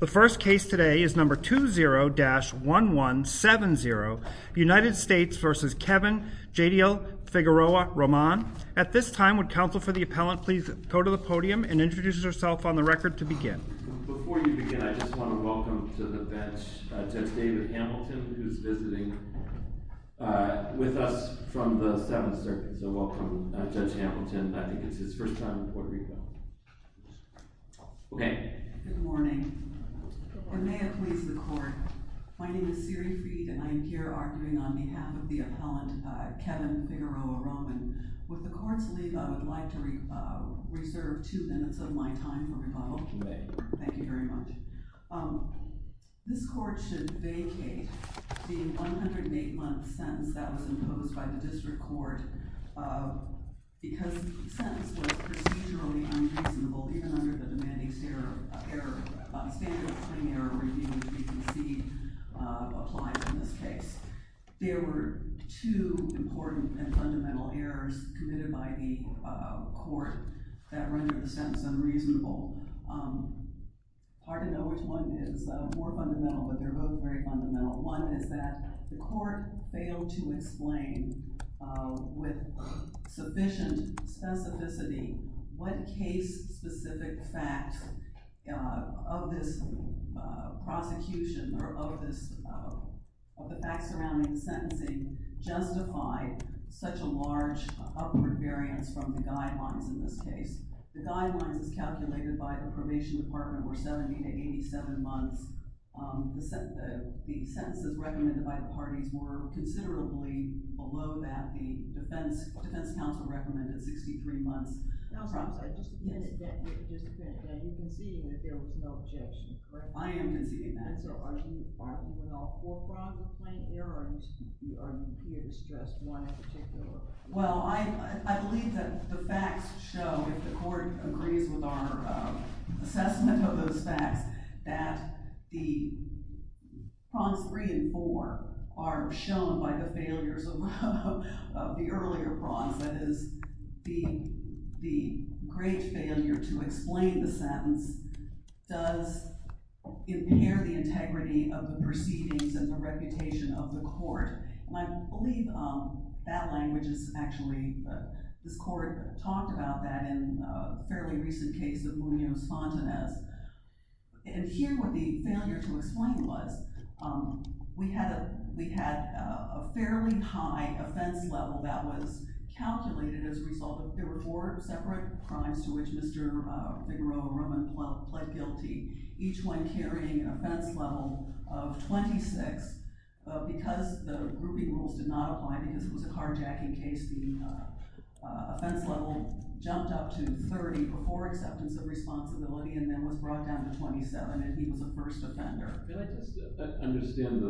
The first case today is number 20-1170 United States v. Kevin J.D. Figueroa-Roman At this time, would counsel for the appellant please go to the podium and introduce herself on the record to begin Before you begin, I just want to welcome to the bench Judge David Hamilton, who's visiting with us from the Seventh Circuit So welcome, Judge Hamilton. I think it's his first time in Puerto Rico Good morning. May it please the Court, my name is Siri Fried and I am here arguing on behalf of the appellant Kevin Figueroa-Roman With the Court's leave, I would like to reserve two minutes of my time for rebuttal. Thank you very much This Court should vacate the 108-month sentence that was imposed by the District Court Because the sentence was procedurally unreasonable, even under the standard claim error review that you can see applies in this case There were two important and fundamental errors committed by the Court that rendered the sentence unreasonable It's hard to know which one is more fundamental, but they're both very fundamental One is that the Court failed to explain with sufficient specificity what case-specific facts of this prosecution Or of the facts surrounding the sentencing justify such a large upward variance from the guidelines in this case The guidelines, as calculated by the Probation Department, were 70 to 87 months The sentences recommended by the parties were considerably below that the Defense Council recommended, 63 months Just a minute, you're conceding that there was no objection, correct? I am conceding that So are you arguing with all four grounds of claim error, or are you here to stress one in particular? Well, I believe that the facts show, if the Court agrees with our assessment of those facts That the prompts 3 and 4 are shown by the failures of the earlier prompts That is, the great failure to explain the sentence does impair the integrity of the proceedings and the reputation of the Court And I believe that language is actually, this Court talked about that in a fairly recent case of Munoz-Fontanez And here what the failure to explain was, we had a fairly high offense level that was calculated as a result of There were four separate crimes to which Mr. Figueroa Roman pled guilty, each one carrying an offense level of 26 But because the grouping rules did not apply, because it was a carjacking case, the offense level jumped up to 30 Before acceptance of responsibility, and then was brought down to 27, and he was the first offender I'd like to understand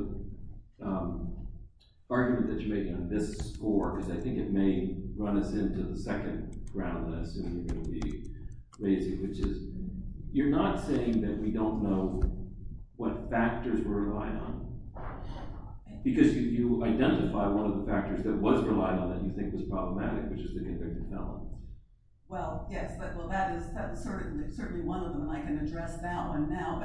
the argument that you're making on this score, because I think it may run us into the second round of this Which is, you're not saying that we don't know what factors were relied on Because you identify one of the factors that was relied on that you think was problematic, which is the indicted felon Well, yes, that is certainly one of them, I can address that one now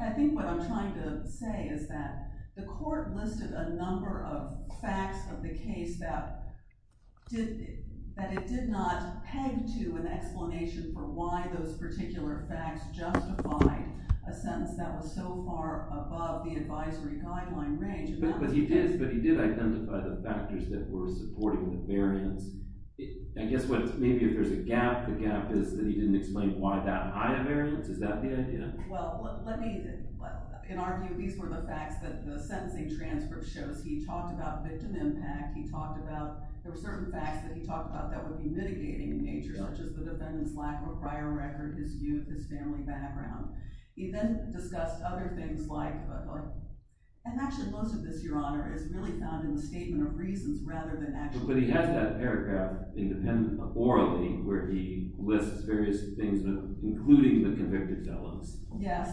I think what I'm trying to say is that the Court listed a number of facts of the case that it did not peg to an explanation For why those particular facts justified a sentence that was so far above the advisory guideline range But he did identify the factors that were supporting the variance I guess maybe if there's a gap, the gap is that he didn't explain why that high a variance, is that the idea? Well, let me, in our view, these were the facts that the sentencing transcript shows He talked about victim impact, he talked about, there were certain facts that he talked about that would be mitigating in nature Such as the defendant's lack of a prior record, his youth, his family background He then discussed other things like, and actually most of this, Your Honor, is really found in the statement of reasons But he has that paragraph, orally, where he lists various things, including the convicted felons Yes,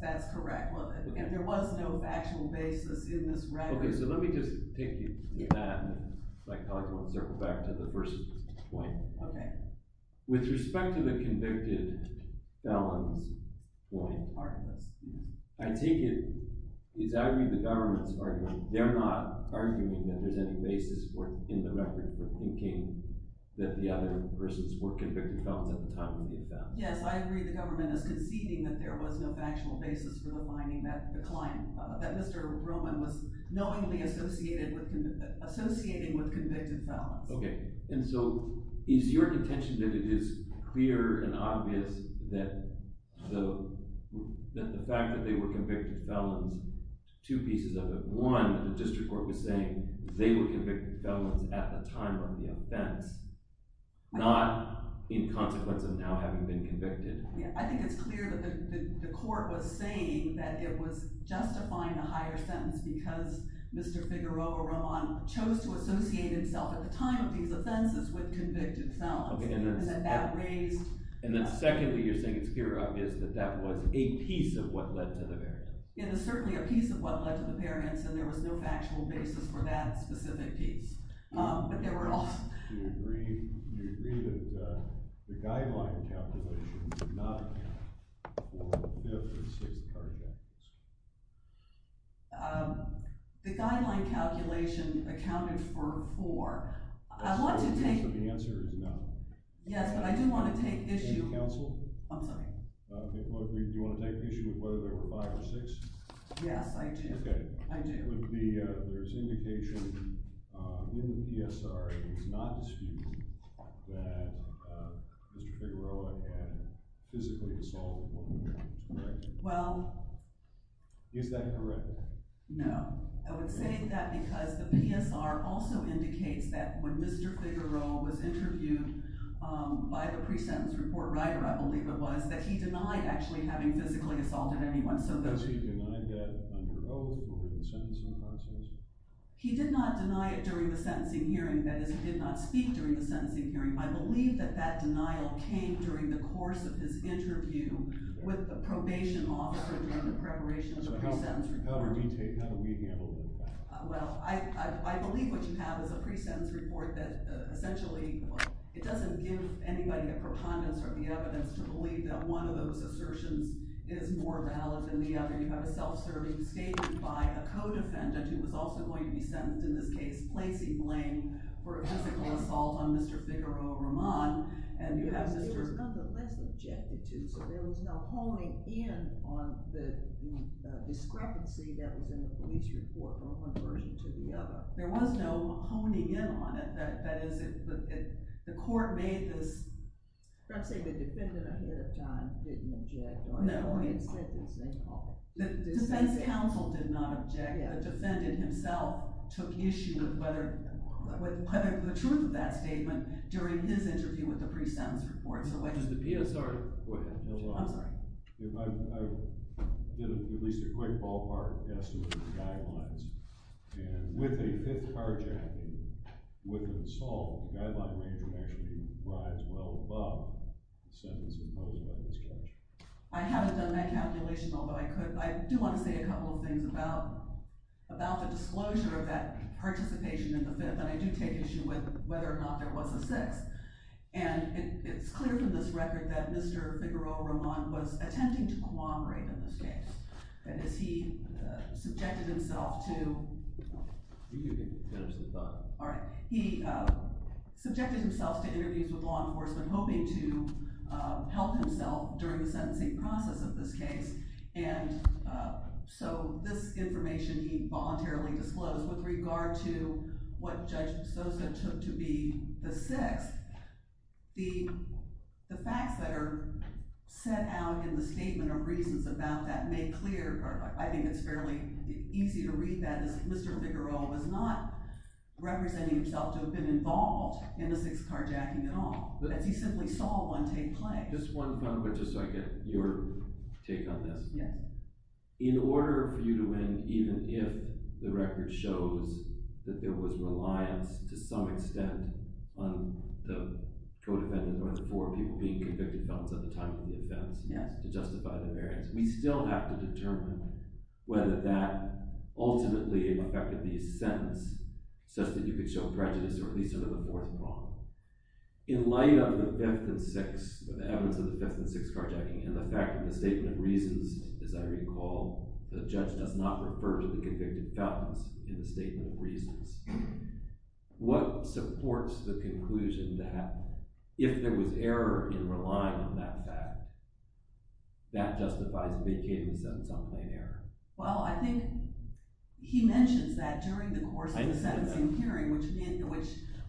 that's correct, and there was no factual basis in this record Okay, so let me just take you to that, and circle back to the first point With respect to the convicted felons point, I think it's out of the government's argument They're not arguing that there's any basis in the record for thinking that the other persons were convicted felons at the time they were found Yes, I agree the government is conceding that there was no factual basis for defining that decline That Mr. Roman was knowingly associating with convicted felons Okay, and so, is your contention that it is clear and obvious that the fact that they were convicted felons Two pieces of it, one, the district court was saying they were convicted felons at the time of the offense Not in consequence of now having been convicted I think it's clear that the court was saying that it was justifying the higher sentence Because Mr. Figueroa Roman chose to associate himself at the time of these offenses with convicted felons Okay, and then secondly, you're saying it's clear and obvious that that was a piece of what led to the verdict It is certainly a piece of what led to the parents, and there was no factual basis for that specific piece But there were also Do you agree that the guideline calculation did not account for the fifth or the sixth charge actions? The guideline calculation accounted for four I want to take So the answer is no Yes, but I do want to take issue Any counsel? I'm sorry Do you want to take issue with whether there were five or six? Yes, I do Okay I do There's indication in the PSRA that it's not disputed that Mr. Figueroa had physically assaulted one of the parents, correct? Well Is that correct? No I would say that because the PSRA also indicates that when Mr. Figueroa was interviewed by the pre-sentence report writer, I believe it was, that he denied actually having physically assaulted anyone Does he deny that under oath or in the sentencing process? He did not deny it during the sentencing hearing, that is, he did not speak during the sentencing hearing I believe that that denial came during the course of his interview with the probation officer during the preparation of the pre-sentence report How do we handle that? Well, I believe what you have is a pre-sentence report that essentially, it doesn't give anybody a preponderance or the evidence to believe that one of those assertions is more valid than the other You have a self-serving statement by a co-defendant who was also going to be sentenced in this case, placing blame for a physical assault on Mr. Figueroa Roman It was nonetheless objected to, so there was no honing in on the discrepancy that was in the police report from one version to the other There was no honing in on it, that is, the court made this I'm trying to say the defendant ahead of time didn't object on it No I'm sorry I haven't done that calculation, although I could I do want to say a couple of things about the disclosure of that participation in the Fifth, and I do take issue with whether or not there was a Sixth And it's clear from this record that Mr. Figueroa Roman was attempting to cooperate in this case That is, he subjected himself to All right, he subjected himself to interviews with law enforcement, hoping to help himself during the sentencing process of this case And so this information he voluntarily disclosed With regard to what Judge Sosa took to be the Sixth, the facts that are set out in the statement are reasons about that I think it's fairly easy to read that Mr. Figueroa was not representing himself to have been involved in the Sixth carjacking at all He simply saw one take play Just one comment, just so I get your take on this Yes In order for you to win, even if the record shows that there was reliance to some extent on the co-defendant or the four people being convicted felons at the time of the offense Yes To justify the variance We still have to determine whether that ultimately affected the sentence such that you could show prejudice, or at least under the fourth law In light of the Fifth and Sixth, the evidence of the Fifth and Sixth carjacking, and the fact that the statement of reasons, as I recall The judge does not refer to the convicted felons in the statement of reasons What supports the conclusion that if there was error in relying on that fact That justifies vacating the sentence on plain error Well, I think he mentions that during the course of the sentencing hearing Which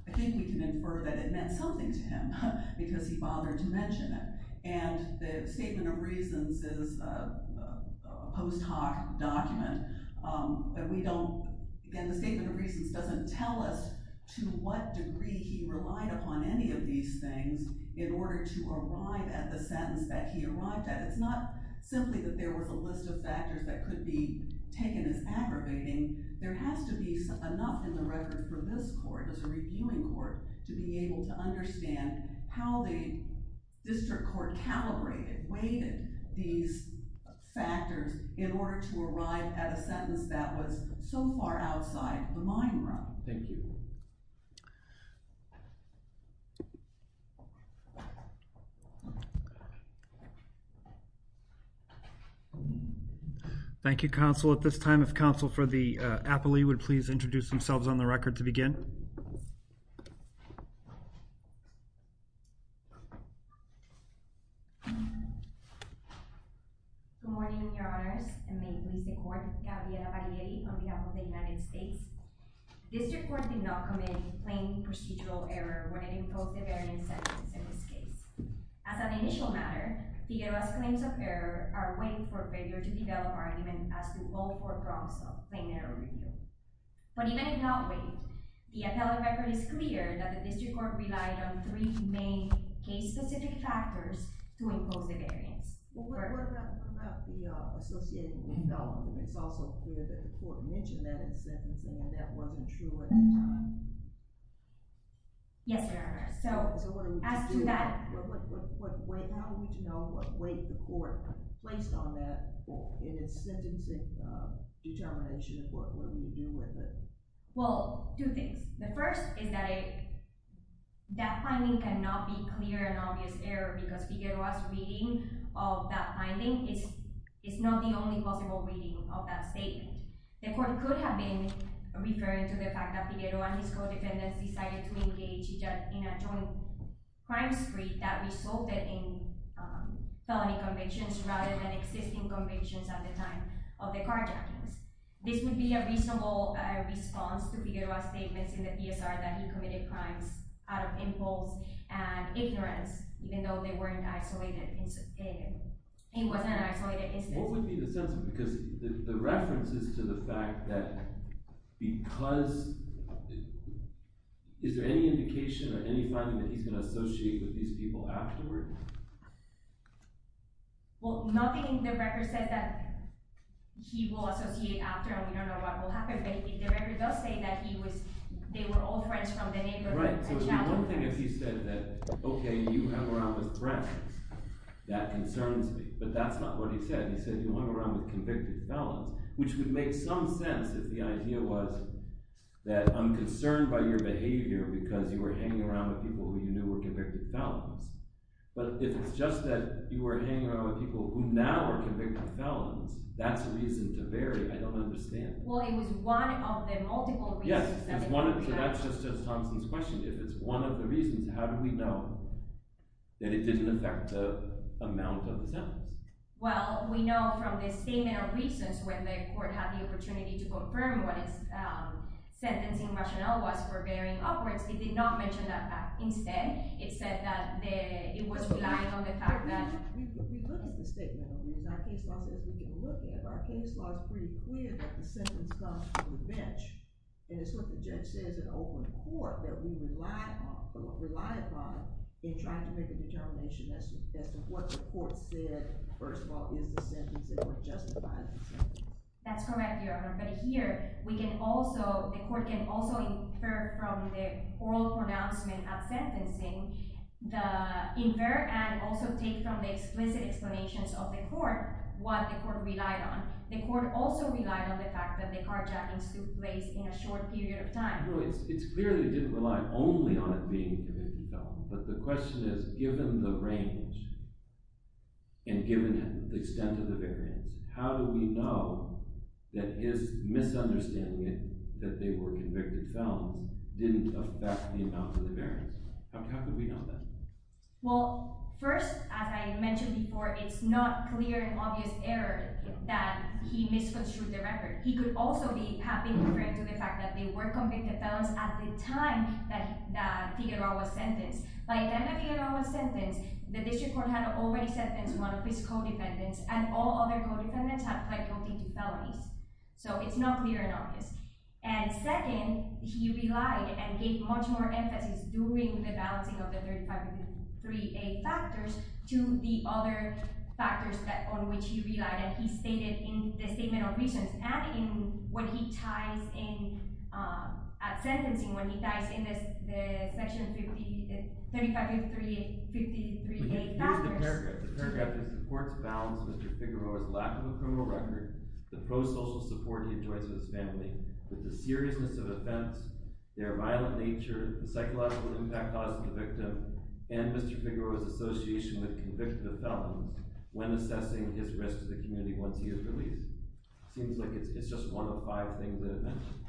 I think we can infer that it meant something to him because he bothered to mention it And the statement of reasons is a post hoc document Again, the statement of reasons doesn't tell us to what degree he relied upon any of these things in order to arrive at the sentence that he arrived at It's not simply that there was a list of factors that could be taken as aggravating There has to be enough in the record for this court, as a reviewing court, to be able to understand how the district court calibrated, weighted these factors In order to arrive at a sentence that was so far outside the mine run Thank you Thank you, counsel. At this time, if counsel for the appellee would please introduce themselves on the record to begin Good morning, your honors, and may it please the court, Gabriela Variety, on behalf of the United States District court did not commit plain procedural error when it imposed the variant sentence in this case As an initial matter, the U.S. claims of error are weighing for failure to develop argument as to all four prompts of plain error review But even in that weight, the appellate record is clear that the district court relied on three main case-specific factors to impose the variance What about the associated development? It's also clear that the court mentioned that in sentencing and that wasn't true at the time Yes, your honors How do we know what weight the court placed on that in its sentencing determination? What do we do with it? Well, two things. The first is that that finding cannot be clear and obvious error because Figueroa's reading of that finding is not the only possible reading of that statement The court could have been referring to the fact that Figueroa and his co-defendants decided to engage in a joint crime spree that resulted in felony convictions rather than existing convictions at the time of the carjacking This would be a reasonable response to Figueroa's statements in the PSR that he committed crimes out of impulse and ignorance, even though they weren't isolated It wasn't an isolated incident What would be the sense of it? Because the reference is to the fact that because... Is there any indication or any finding that he's going to associate with these people afterward? Well, nothing in the record says that he will associate after and we don't know what will happen, but the record does say that they were all friends from the neighborhood Right. So it would be one thing if he said that, okay, you hung around with friends. That concerns me. But that's not what he said. He said you hung around with convicted felons Which would make some sense if the idea was that I'm concerned by your behavior because you were hanging around with people who you knew were convicted felons But if it's just that you were hanging around with people who now are convicted felons, that's reason to vary. I don't understand Well, it was one of the multiple reasons... Yes, so that's just Thompson's question. If it's one of the reasons, how do we know that it didn't affect the amount of the sentence? Well, we know from the statement of reasons when the court had the opportunity to confirm what its sentencing rationale was for varying upwards, it did not mention that fact Instead, it said that it was relying on the fact that... We looked at the statement of reasons. Our case law says we can look at it. Our case law is pretty clear that the sentence comes from revenge And it's what the judge says in open court that we relied upon in trying to make a determination as to what the court said, first of all, is the sentence and what justifies it That's correct, Your Honor. But here, the court can also infer from the oral pronouncement of sentencing, infer and also take from the explicit explanations of the court what the court relied on The court also relied on the fact that the carjacking took place in a short period of time It clearly didn't rely only on it being a convicted felon, but the question is, given the range and given the extent of the variance, how do we know that his misunderstanding that they were convicted felons didn't affect the amount of the variance? How could we know that? Well, first, as I mentioned before, it's not clear and obvious error that he misconstrued the record. He could also have been different to the fact that they were convicted felons at the time that Teodoro was sentenced By the time that Teodoro was sentenced, the district court had already sentenced one of his co-defendants and all other co-defendants had pled guilty to felonies So it's not clear and obvious. And second, he relied and gave much more emphasis during the balancing of the 35.3a factors to the other factors on which he relied And he stated in the statement of reasons and when he ties in at sentencing, when he ties in the section 35.3a factors The paragraph that supports balance Mr. Figueroa's lack of a criminal record, the pro-social support he enjoys with his family, the seriousness of offense, their violent nature, the psychological impact caused to the victim, and Mr. Figueroa's association with convicted felons when assessing his risk to the community once he is released Seems like it's just one of five things that are mentioned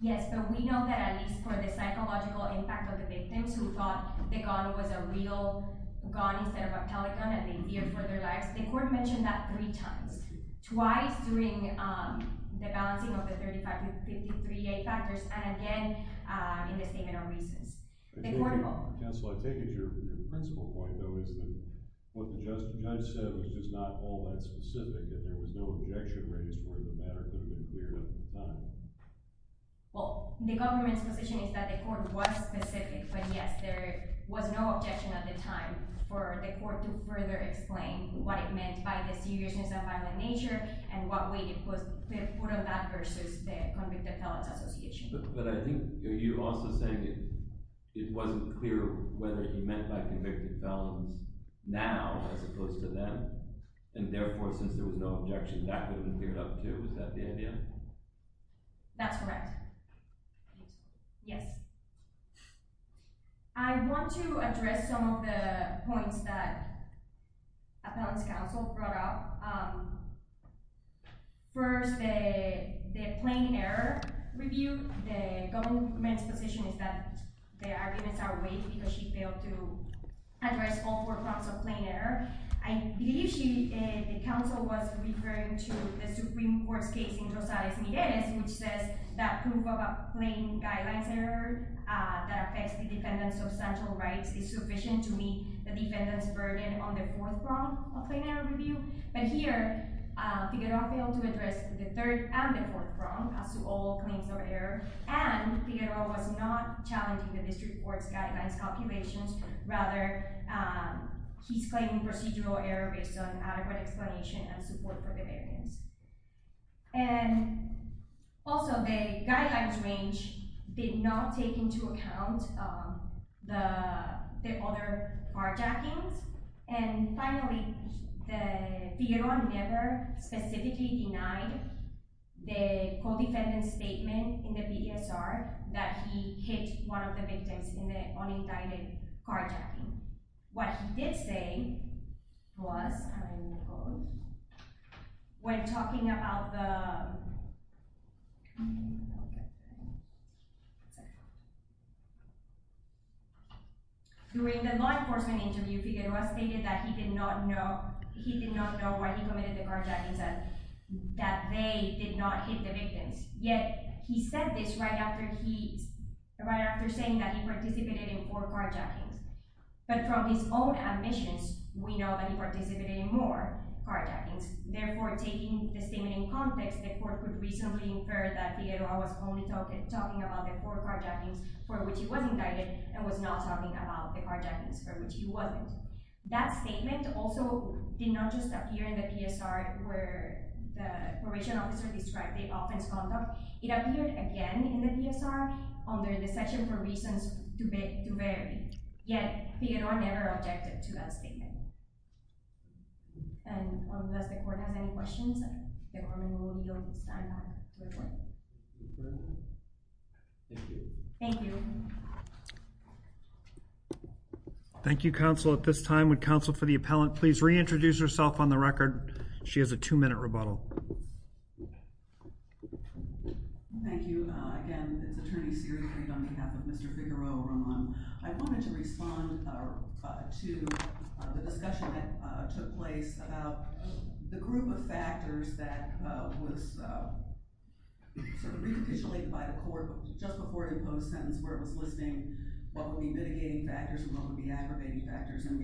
Yes, but we know that at least for the psychological impact of the victims who thought the gun was a real gun instead of a telegun and they feared for their lives The court mentioned that three times. Twice during the balancing of the 35.3a factors and again in the statement of reasons Counsel, I take it your principal point though is that what the judge said was just not all that specific and there was no objection raised for the matter to have been cleared up at the time Well, the government's position is that the court was specific, but yes, there was no objection at the time for the court to further explain what it meant by the seriousness of violent nature and what weight it put on that versus the convicted felons association But I think you're also saying it wasn't clear whether he meant by convicted felons now as opposed to then and therefore since there was no objection that could have been cleared up too, is that the idea? That's correct. Yes I want to address some of the points that appellant's counsel brought up First, the plain error review, the government's position is that the arguments are weak because she failed to address all four forms of plain error I believe the counsel was referring to the Supreme Court's case in Rosales-Migueles which says that proof of a plain guidelines error that affects the defendant's substantial rights is sufficient to meet the defendant's burden on the fourth form of plain error review But here, Figueroa failed to address the third and the fourth form as to all claims of error and Figueroa was not challenging the district court's guidelines calculations, rather he's claiming procedural error based on adequate explanation and support for the variance And also the guidelines range did not take into account the other carjackings and finally, Figueroa never specifically denied the co-defendant's statement in the BESR that he hit one of the victims in the unindicted carjacking What he did say was, when talking about the, during the law enforcement interview Figueroa stated that he did not know why he committed the carjackings and that they did not hit the victims Yet he said this right after he, right after saying that he participated in four carjackings but from his own admissions we know that he participated in more carjackings Therefore taking the statement in context the court could reasonably infer that Figueroa was only talking about the four carjackings for which he was indicted and was not talking about the carjackings for which he wasn't That statement also did not just appear in the BESR where the probation officer described the offense conduct, it appeared again in the BESR under the section for reasons to vary, yet Figueroa never objected to that statement And unless the court has any questions, the government will be on stand by to report Thank you Thank you Thank you Thank you counsel, at this time would counsel for the appellant please reintroduce herself on the record, she has a two minute rebuttal Thank you, again it's attorney Siri Reed on behalf of Mr. Figueroa Roman I wanted to respond to the discussion that took place about the group of factors that was sort of repitulated by the court just before a post sentence where it was listing what would be mitigating factors and what would be aggravating factors And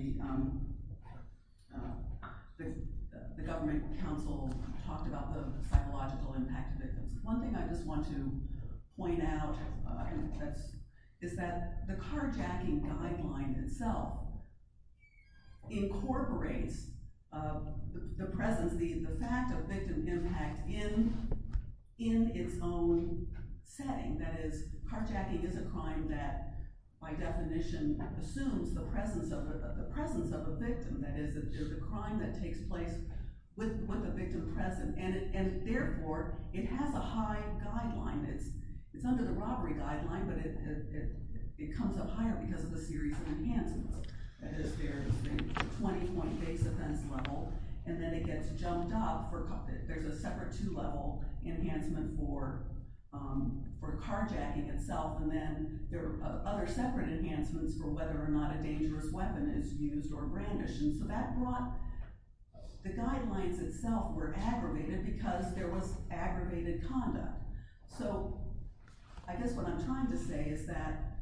the government counsel talked about the psychological impact of victims The presence of a victim, that is the crime that takes place with a victim present and therefore it has a high guideline, it's under the robbery guideline but it comes up higher because of the series of enhancements 20 point base offense level and then it gets jumped up, there's a separate two level enhancement for carjacking itself and then there are other separate enhancements for whether or not a dangerous weapon is used or brandished So that brought, the guidelines itself were aggravated because there was aggravated conduct So I guess what I'm trying to say is that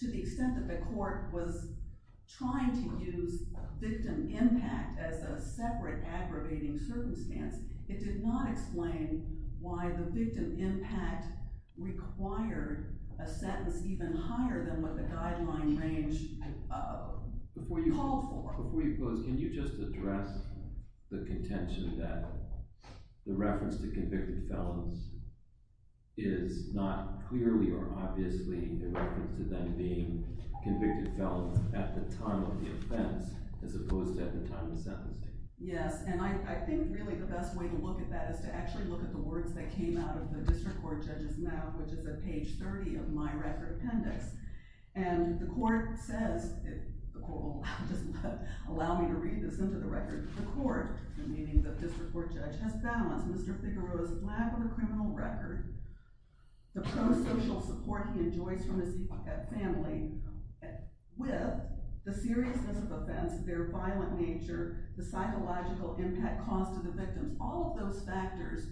to the extent that the court was trying to use victim impact as a separate aggravating circumstance, it did not explain why the victim impact required a sentence even higher than what the guideline range called for Before you close, can you just address the contention that the reference to convicted felons is not clearly or obviously a reference to them being convicted felons at the time of the offense as opposed to at the time of the sentencing Yes, and I think really the best way to look at that is to actually look at the words that came out of the district court judge's mouth which is at page 30 of my record appendix And the court says, if the court will allow me to read this into the record, the court, meaning the district court judge has balanced Mr. Figueroa's lack of a criminal record, the pro-social support he enjoys from his family with the seriousness of offense, their violent nature, the psychological impact caused to the victims, all of those factors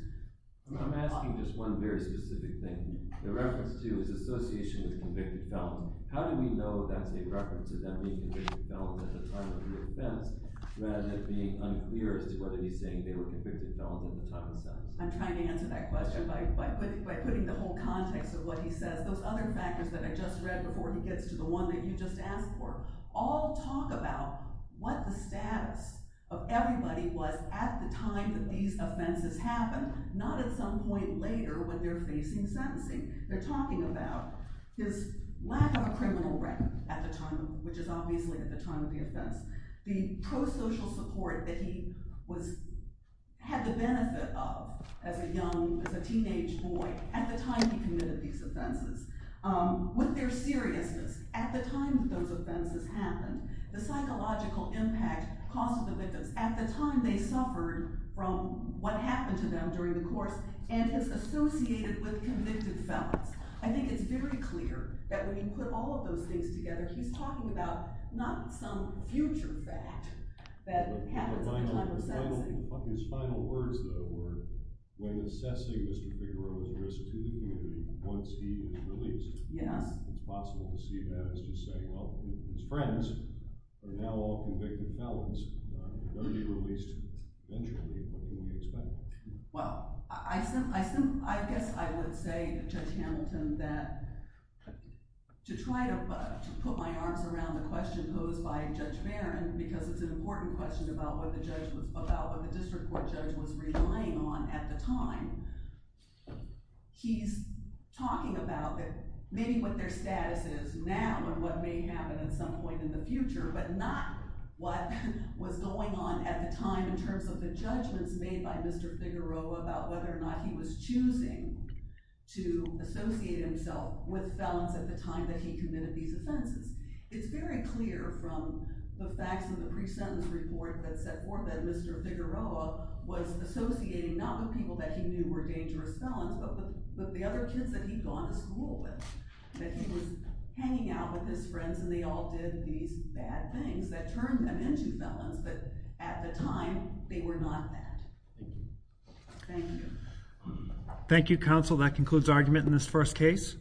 I'm asking just one very specific thing. The reference to is association with convicted felons. How do we know that's a reference to them being convicted felons at the time of the offense rather than it being unclear as to whether he's saying they were convicted felons at the time of the sentence? I'm trying to answer that question by putting the whole context of what he says. Those other factors that I just read before he gets to the one that you just asked for all talk about what the status of everybody was at the time that these offenses happened, not at some point later when they're facing sentencing. They're talking about his lack of a criminal record at the time, which is obviously at the time of the offense. The pro-social support that he had the benefit of as a young, as a teenage boy at the time he committed these offenses. With their seriousness at the time that those offenses happened, the psychological impact caused to the victims at the time they suffered from what happened to them during the course and is associated with convicted felons. I think it's very clear that when you put all of those things together, he's talking about not some future fact that happens at the time of sentencing. His final words, though, were, when assessing Mr. Figueroa's risk to the community once he was released, it's possible to see that as just saying, well, his friends are now all convicted felons. They're going to be released eventually. What can we expect? Well, I guess I would say to Judge Hamilton that to try to put my arms around the question posed by Judge Barron, because it's an important question about what the district court judge was relying on at the time, he's talking about maybe what their status is now and what may happen at some point in the future, but not what was going on at the time in terms of the judgments made by Mr. Figueroa about whether or not he was choosing to associate himself with felons at the time that he committed these offenses. It's very clear from the facts in the pre-sentence report that set forth that Mr. Figueroa was associating not with people that he knew were dangerous felons, but with the other kids that he'd gone to school with, that he was hanging out with his friends and they all did these bad things that turned them into felons, but at the time, they were not that. Thank you. Thank you, counsel. That concludes argument in this first case.